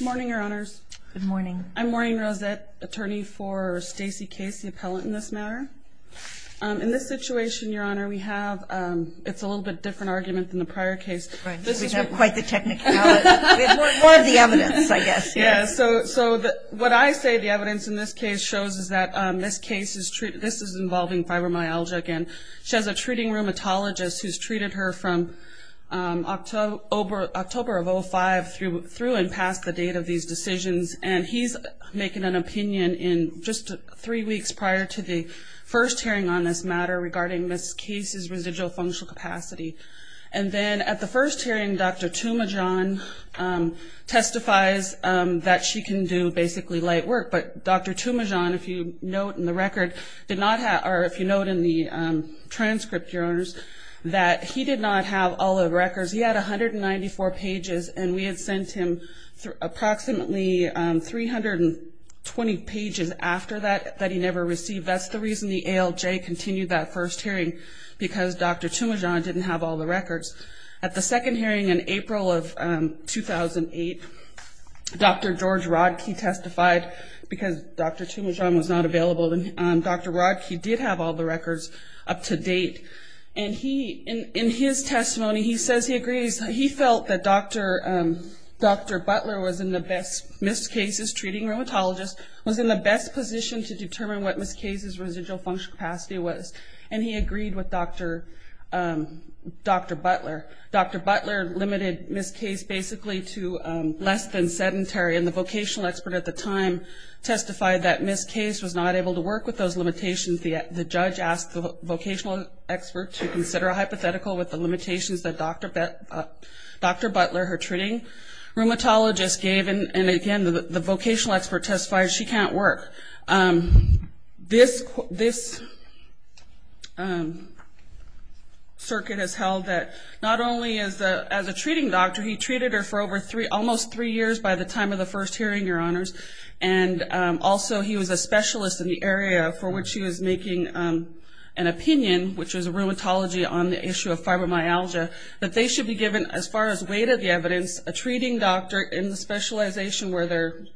Morning Your Honors. Good morning. I'm Maureen Rosette, attorney for Stacey Case, the appellant in this matter. In this situation, Your Honor, we have, it's a little bit different argument than the prior case. Right, we don't have quite the technicality. More of the evidence, I guess. Yeah, so what I say the evidence in this case shows is that this case is treated, this is involving fibromyalgia again. She has a treating rheumatologist who's treated her from October of 05 through and past the date of these decisions, and he's making an opinion in just three weeks prior to the first hearing on this matter regarding Ms. Case's residual functional capacity. And then at the first hearing, Dr. Tumajon testifies that she can do basically light work, but Dr. Tumajon, if you note in the record, did not have, or if you note in the transcript, Your Honors, that he did not have all the records. He had 194 pages, and we had sent him approximately 320 pages after that that he never received. That's the reason the ALJ continued that first hearing, because Dr. Tumajon didn't have all the records. At the second hearing in April of 2008, Dr. George Rodkey testified, because Dr. Tumajon was not available, and Dr. Rodkey did have all the records up to date. And he, in his testimony, he says he agrees. He felt that Dr. Butler was in the best, Ms. Case's treating rheumatologist, was in the best position to determine what Ms. Case's residual functional capacity was. And he agreed with Dr. Butler. Dr. Butler limited Ms. Case basically to less than sedentary, and the vocational expert at the time testified that Ms. Case was not able to work with those limitations. The judge asked the vocational expert to consider a hypothetical with the limitations that Dr. Butler, her treating rheumatologist, gave. And again, the vocational expert testified she can't work. This circuit has held that not only as a treating doctor, he treated her for almost three years by the time of the first hearing, Your Honors, and also he was a specialist in the area for which he was making an opinion, which was a rheumatology on the issue of fibromyalgia, that they should be given, as far as weight of the evidence, a treating doctor in the specialization where they're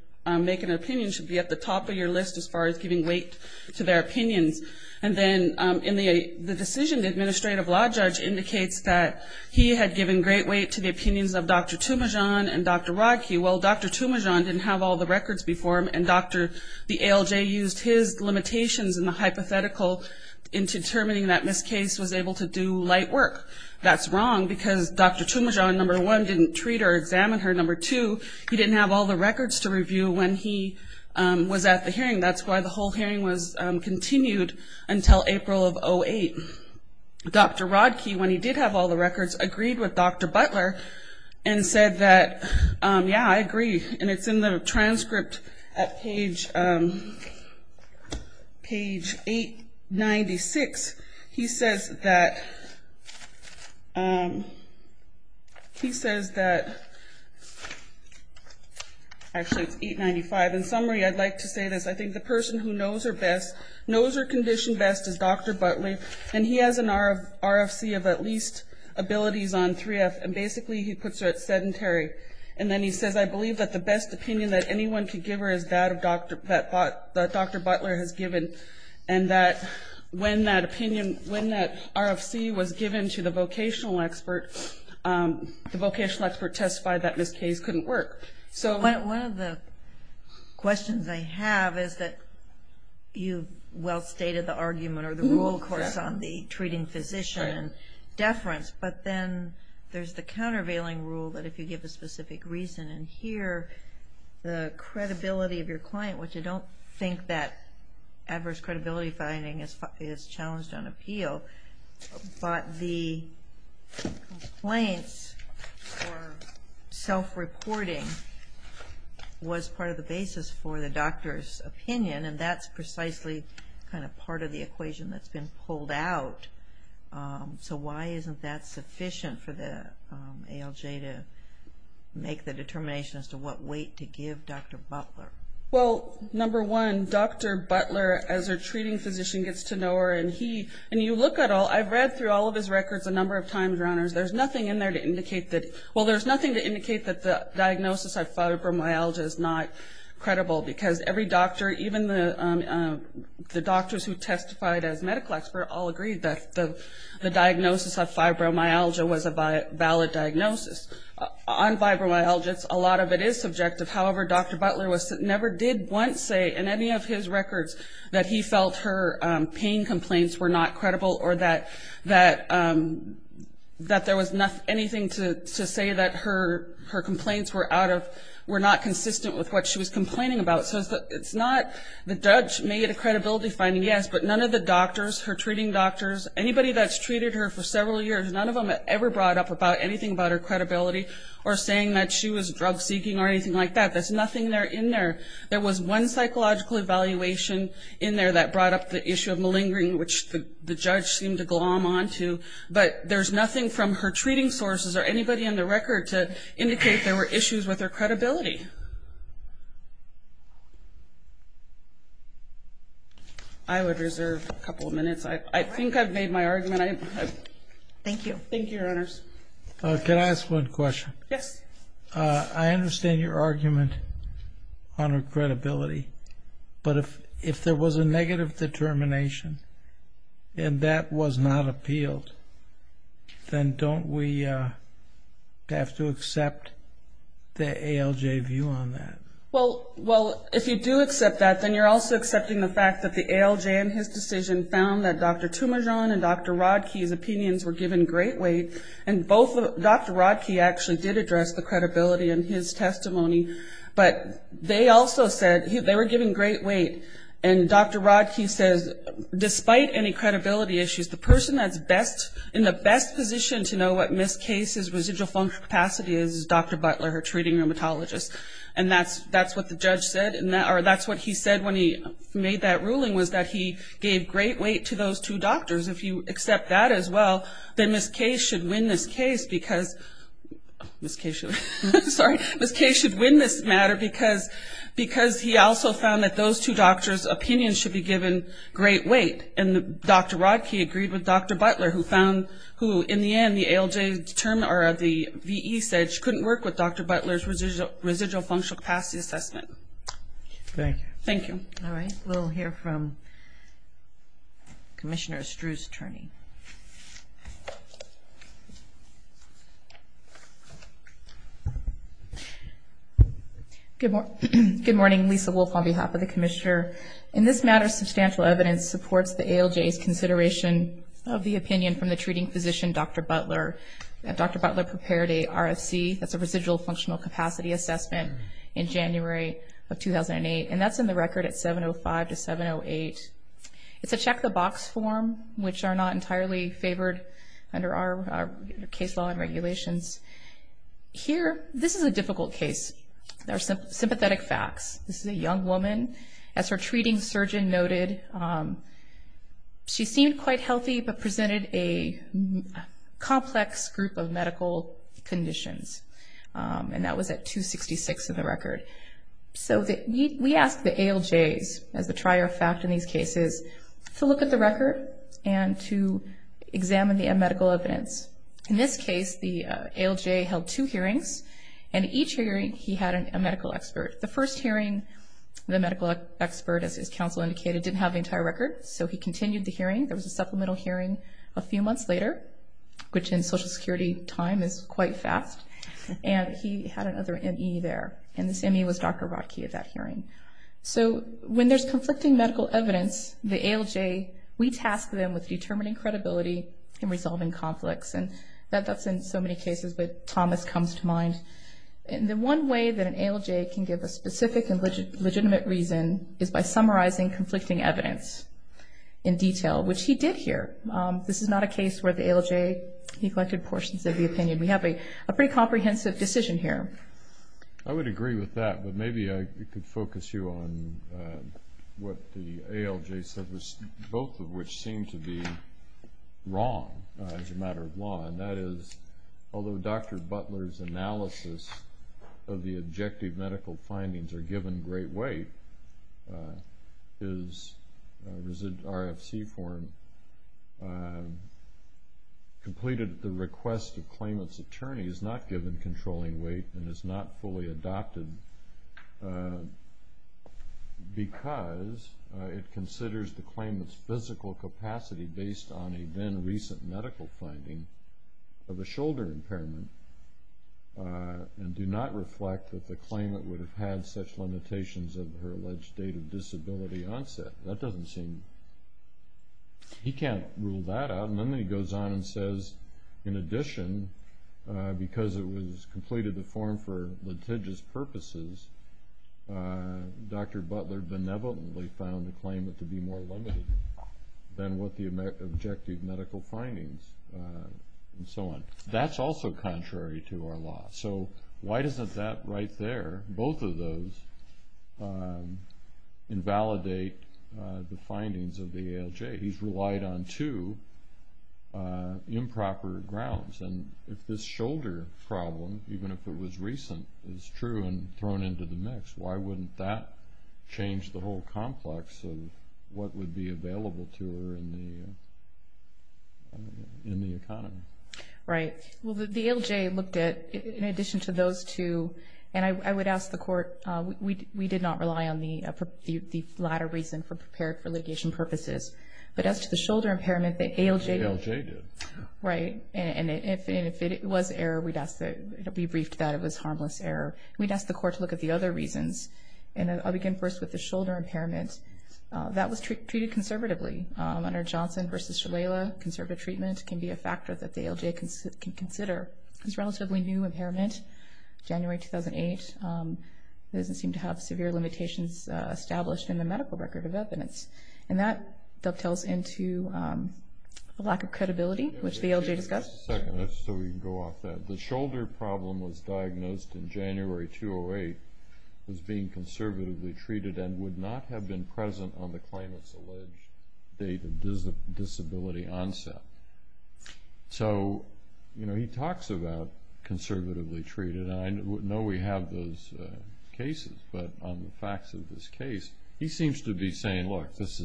making an opinion should be at the top of your list as far as giving weight to their opinions. And then in the decision, the administrative law judge indicates that he had given great weight to the opinions of Dr. Tumajon and Dr. Rodkey. Well, Dr. Tumajon didn't have all the records before him and Dr. the ALJ used his limitations in the hypothetical in determining that Ms. Case was able to do light work. That's wrong because Dr. Tumajon, number one, didn't treat or examine her. Number two, he didn't have all the records to review when he was at the hearing. That's why the whole hearing was continued until April of 08. Dr. Rodkey, when he did have all the records, agreed with Dr. Butler and said that, yeah, I agree. And it's in a transcript at page 896. He says that, he says that, actually it's 895. In summary, I'd like to say this. I think the person who knows her best, knows her condition best, is Dr. Butler and he has an RFC of at least abilities on 3F and basically he puts her at sedentary. And then he says, I believe that the best opinion that anyone could give her is that Dr. Butler has given. And that when that opinion, when that RFC was given to the vocational expert, the vocational expert testified that Ms. Case couldn't work. One of the questions I have is that you well stated the argument or the rule, of course, on the treating physician and deference, but then there's the countervailing rule that if you give a specific reason in here, the credibility of your client, which I don't think that adverse credibility finding is challenged on appeal, but the complaints or self-reporting was part of the basis for the doctor's opinion and that's precisely kind of part of the equation that's been pulled out. So why isn't that sufficient for the ALJ to make the determination as to what weight to give Dr. Butler? Well, number one, Dr. Butler as a treating physician gets to know her and he, and you look at all, I've read through all of his records a number of times, Your Honors, there's nothing in there to indicate that, well, there's nothing to indicate that the diagnosis of fibromyalgia is not credible because every doctor, even the doctors who testified as medical experts all agreed that the diagnosis of fibromyalgia was a valid diagnosis. On fibromyalgia, a lot of it is subjective. However, Dr. Butler never did once say in any of his records that he felt her pain complaints were not credible or that there was anything to say that her complaints were out of, were not consistent with what she was complaining about. So it's not, the judge made a credibility finding, yes, but none of the doctors, her treating doctors, anybody that's treated her for several years, none of them ever brought up about anything about her credibility or saying that she was drug-seeking or anything like that. There's nothing there in there. There was one psychological evaluation in there that brought up the issue of malingering, which the judge seemed to glom onto, but there's nothing from her treating sources or anybody in the would reserve a couple of minutes. I think I've made my argument. Thank you. Thank you, Your Honors. Can I ask one question? Yes. I understand your argument on her credibility, but if there was a negative determination and that was not appealed, then don't we have to accept the ALJ view on that? Well, if you do accept the fact that the ALJ in his decision found that Dr. Tumajon and Dr. Rodkey's opinions were given great weight, and both Dr. Rodkey actually did address the credibility in his testimony, but they also said they were given great weight. And Dr. Rodkey says, despite any credibility issues, the person that's best, in the best position to know what Ms. Case's residual function capacity is, is Dr. Butler, her treating rheumatologist. And that's what the said when he made that ruling, was that he gave great weight to those two doctors. If you accept that as well, then Ms. Case should win this case, because Ms. Case should win this matter, because he also found that those two doctors' opinions should be given great weight. And Dr. Rodkey agreed with Dr. Butler, who found, who in the end, the ALJ determined, or the V.E. said she couldn't work with Dr. Butler's residual functional capacity assessment. Thank you. All right, we'll hear from Commissioner Struz's attorney. Good morning, Lisa Wolf on behalf of the Commissioner. In this matter, substantial evidence supports the ALJ's consideration of the opinion from the treating physician, Dr. Butler. Dr. Butler, in January of 2008, and that's in the record at 705 to 708. It's a check-the-box form, which are not entirely favored under our case law and regulations. Here, this is a difficult case. There are sympathetic facts. This is a young woman. As her treating surgeon noted, she seemed quite healthy, but presented a complex group of medical conditions. And that was at 266 in the record. So we ask the ALJs, as the trier of fact in these cases, to look at the record and to examine the medical evidence. In this case, the ALJ held two hearings, and in each hearing, he had a medical expert. The first hearing, the medical expert, as his counsel indicated, didn't have the entire record, so he continued the hearing. There was a supplemental hearing a few months later, which in Social Security time is quite fast, and he had another M.E. there. In his M.E. was Dr. Rodkey at that hearing. So when there's conflicting medical evidence, the ALJ, we task them with determining credibility and resolving conflicts, and that's in so many cases that Thomas comes to mind. And the one way that an ALJ can give a specific and legitimate reason is by summarizing conflicting evidence in detail, which he did here. This is not a case where the ALJ neglected portions of the opinion. We have a pretty comprehensive decision here. I would agree with that, but maybe I could focus you on what the ALJ said, both of which seem to be wrong as a matter of law, and that is, although Dr. Butler's analysis of the objective medical findings are given great weight, his RFC form completed at the request of claimant's attorney is not given controlling weight and is not fully adopted because it considers the claimant's physical capacity based on a then-recent medical finding of a shoulder impairment and do not reflect that the claimant would have had such limitations of her alleged date of disability onset. He can't rule that out, and then he goes on and says, in addition, because it was completed to form for litigious purposes, Dr. Butler benevolently found the claimant to be more limited than what the objective medical findings, and so on. That's also contrary to our law, so why doesn't that right there, both of those, invalidate the findings of the ALJ? He's relied on two improper grounds, and if this shoulder problem, even if it was recent, is true and thrown into the mix, why wouldn't that change the whole complex of what would be available to her in the economy? Right. Well, the ALJ looked at, in addition to those two, and I would not rely on the latter reason for prepared for litigation purposes, but as to the shoulder impairment, the ALJ did. Right, and if it was error, we'd ask that it be briefed that it was harmless error. We'd ask the court to look at the other reasons, and I'll begin first with the shoulder impairment. That was treated conservatively. Under Johnson v. Shalala, conservative treatment can be a factor that the ALJ can consider. This relatively new impairment, January 2008, doesn't seem to have severe limitations established in the medical record of evidence, and that dovetails into a lack of credibility, which the ALJ discussed. Just a second, just so we can go off that. The shoulder problem was diagnosed in January 2008 as being conservatively treated and would not have been present on the claimant's alleged date of disability onset. So, you know, he talks about conservatively treated, and I know we have those cases, but on the facts of this case, he seems to be saying, look, this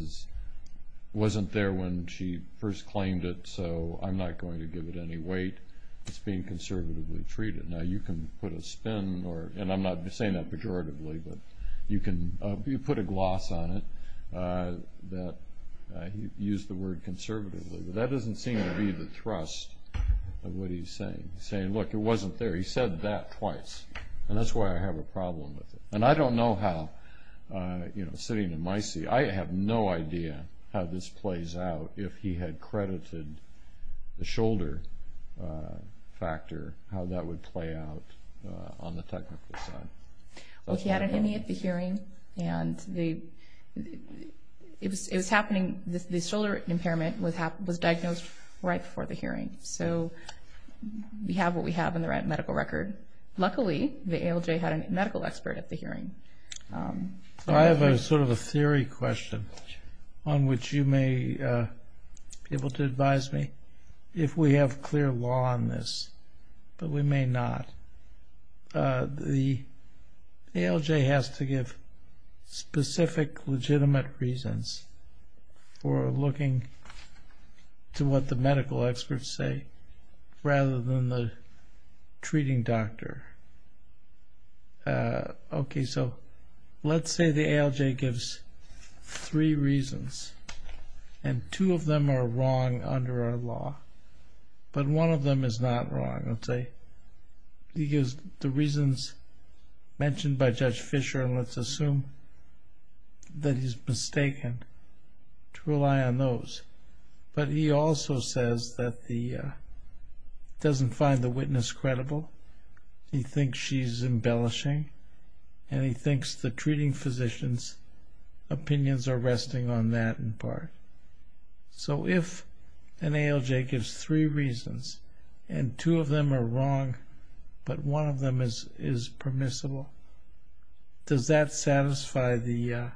wasn't there when she first claimed it, so I'm not going to give it any weight. It's being conservatively treated. Now, you can put a spin, and I'm not saying that pejoratively, but you can put a gloss on it that he used the word conservatively. He's saying, look, it wasn't there. He said that twice, and that's why I have a problem with it. And I don't know how, you know, sitting in my seat, I have no idea how this plays out if he had credited the shoulder factor, how that would play out on the technical side. Well, he had an ME at the hearing, and it was happening, the shoulder impairment was diagnosed right before the hearing. So, we have what we have in the medical record. Luckily, the ALJ had a medical expert at the hearing. I have a sort of a theory question on which you may be able to advise me if we have clear law on this, but we may not. The ALJ has to give specific legitimate reasons for looking to what the medical experts say, rather than the treating doctor. Okay, so let's say the ALJ gives three reasons, and two of them are wrong under our law, but one of them is not wrong, let's say. He gives the reasons mentioned by Judge Fisher, and let's assume that he's mistaken to rely on those. But he also says that he doesn't find the witness credible, he thinks she's embellishing, and he thinks the treating physician's opinions are resting on that in part. So, if an ALJ gives three reasons, and two of them are wrong, but one of them is permissible, does that satisfy the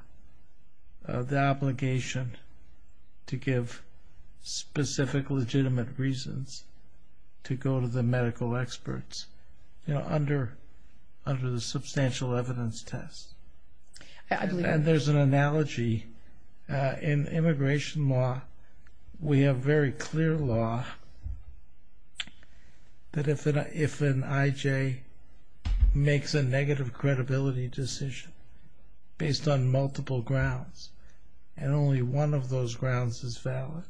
obligation to give specific legitimate reasons to go to the medical experts, you know, under the substantial evidence test? And there's an analogy. In immigration law, we have very clear law that if an IJ makes a negative credibility decision based on multiple grounds, and only one of those grounds is valid,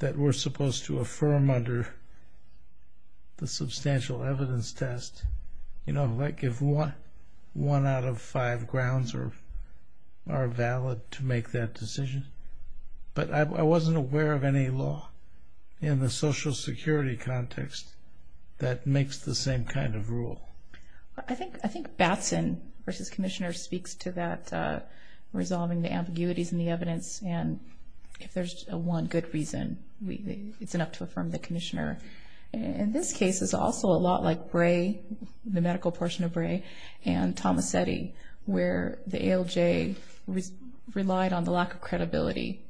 that we're supposed to affirm under the substantial evidence test, you know, like if one out of five grounds are valid to make that decision. But I wasn't aware of any law in the Social Security context that makes the same kind of rule. I think Batson versus Commissioner speaks to that resolving the ambiguities in the evidence, and if there's one good reason, it's enough to affirm the Commissioner. In this case, it's also a lot like Bray, the medical portion of Tomasetti, where the ALJ relied on the lack of credibility.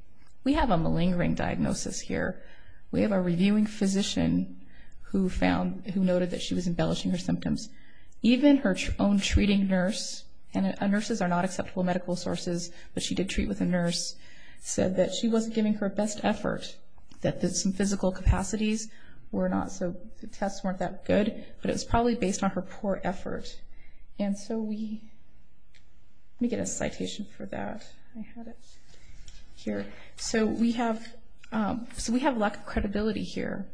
We have a malingering diagnosis here. We have a reviewing physician who found, who noted that she was embellishing her symptoms. Even her own treating nurse, and nurses are not acceptable medical sources, but she did treat with a nurse, said that she wasn't giving her best effort, that there's some physical capacities were not so, the tests weren't that good, but it was probably based on her poor effort. And so we, let me get a citation for that. I had it here. So we have, so we have lack of credibility here,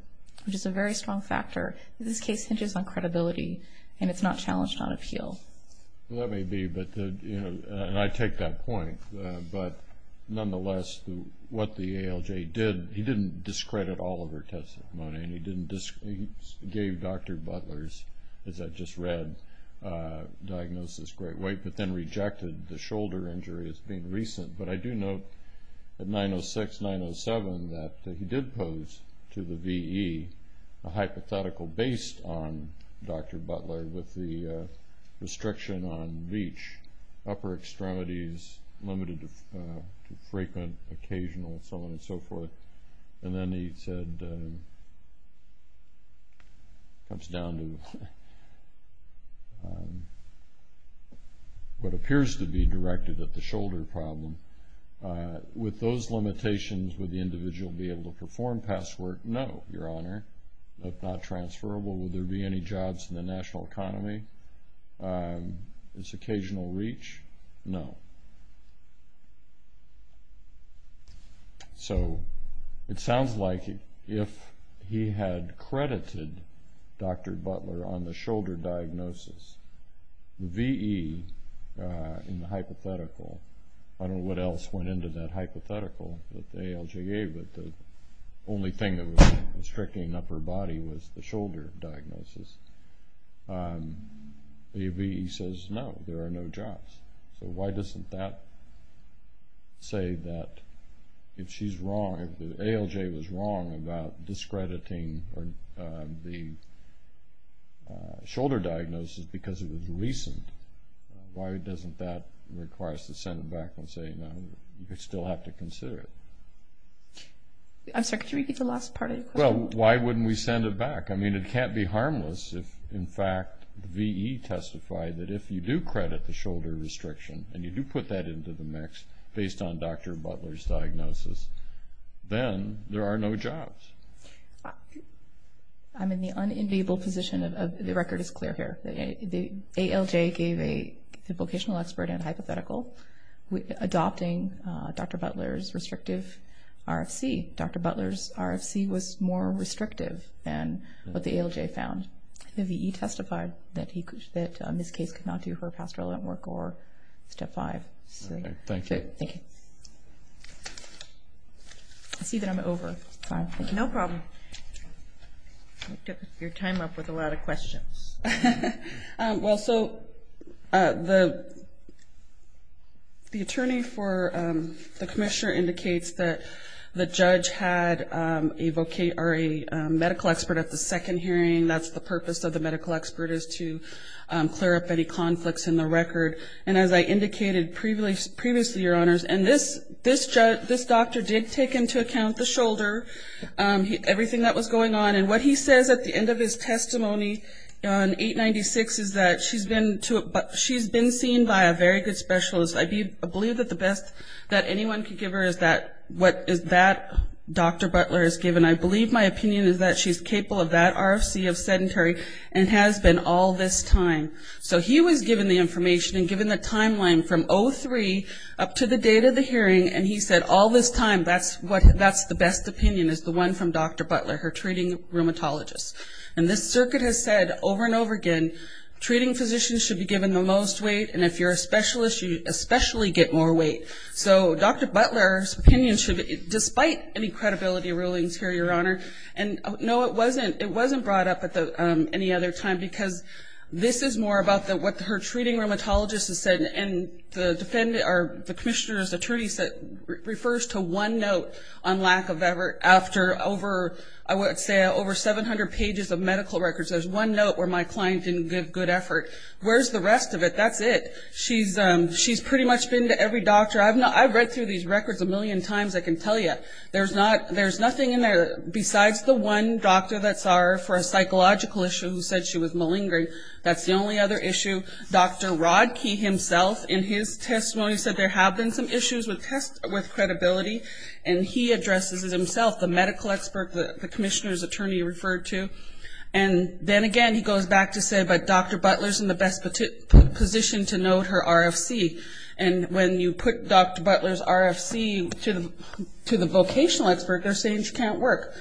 which is a very strong factor. This case hinges on credibility, and it's not challenged on appeal. Well, that may be, but, you know, and I take that point, but nonetheless, what the ALJ did, he didn't discredit all of her testimony, and he didn't, he gave Dr. Butler's, as I just read, diagnosis, great weight, but then rejected the shoulder injury as being recent. But I do note at 906, 907, that he did pose to the VE a hypothetical based on Dr. Butler with the restriction on VEACH, upper extremities limited to frequent, occasional, so on and so forth. And then he said, comes down to what appears to be directed at the shoulder problem. With those limitations, would the individual be able to perform past work? No, Your Honor. If not transferable, would there be any jobs in the national economy? Is occasional reach? No. So, it sounds like if he had credited Dr. Butler on the shoulder diagnosis, VE, in the hypothetical, I don't know what else went into that hypothetical that the ALJ gave, but the only thing that was restricting upper body was the shoulder diagnosis, the VE says, no, there are no jobs. So, why doesn't that say that if she's wrong, if the ALJ was wrong about discrediting the shoulder diagnosis because it was recent, why doesn't that require us to send it back and say, no, we still have to consider it? I'm sorry, could you repeat the last part of your question? Well, why wouldn't we send it back? I mean, it can't be harmless if, in fact, VE testified that if you do credit the shoulder restriction and you do put that into the mix based on Dr. Butler's diagnosis, then there are no jobs. I'm in the unenviable position of, the record is clear here. The ALJ gave a vocational expert in a hypothetical adopting Dr. Butler's restrictive RFC. Dr. Butler's RFC was more restrictive than what the ALJ found. The VE testified that Ms. Case could not do her pastoral work or Step 5. Thank you. I see that I'm over. No problem. You kept your time up with a lot of questions. Well, so the attorney for the commissioner indicates that the judge had a medical expert at the second hearing. That's the purpose of the medical expert is to clear up any conflicts in the record. And as I indicated previously, Your Honors, and this judge, this doctor did take into account the shoulder, everything that was going on. And what he says at the end of his testimony on 896 is that she's been seen by a very good specialist. I believe that the best that anyone could give her is that what is that Dr. Butler has given. I believe my opinion is that she's capable of that RFC of sedentary and has been all this time. So he was given the information and given the timeline from 03 up to the end of the hearing. And he said all this time, that's what, that's the best opinion is the one from Dr. Butler, her treating rheumatologist. And this circuit has said over and over again, treating physicians should be given the most weight. And if you're a specialist, you especially get more weight. So Dr. Butler's opinion should, despite any credibility rulings here, Your Honor, and no, it wasn't, it wasn't brought up at the, um, any other time because this is more about the, what her treating rheumatologist has said and the defendant, or the commissioner's attorney said, refers to one note on lack of effort after over, I would say over 700 pages of medical records. There's one note where my client didn't give good effort. Where's the rest of it? That's it. She's, um, she's pretty much been to every doctor. I've not, I've read through these records a million times. I can tell you there's not, there's nothing in there besides the one doctor that saw her for a psychological issue who said she was malingering. That's the only other issue. Dr. Rodkey himself in his testimony said there have been some issues with test, with credibility. And he addresses it himself, the medical expert, the commissioner's attorney referred to. And then again, he goes back to say, but Dr. Butler's in the best position to note her RFC. And when you put Dr. Butler's RFC to the, to the vocational expert, they're saying she can't work.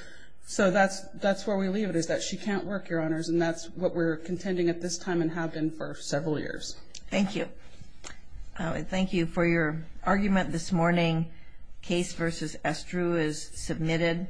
So that's, that's where we leave it is that she can't work, Your Honors. And that's what we're contending at this time and have been for several years. Thank you. Thank you for your argument this morning. Case versus Estrue is submitted.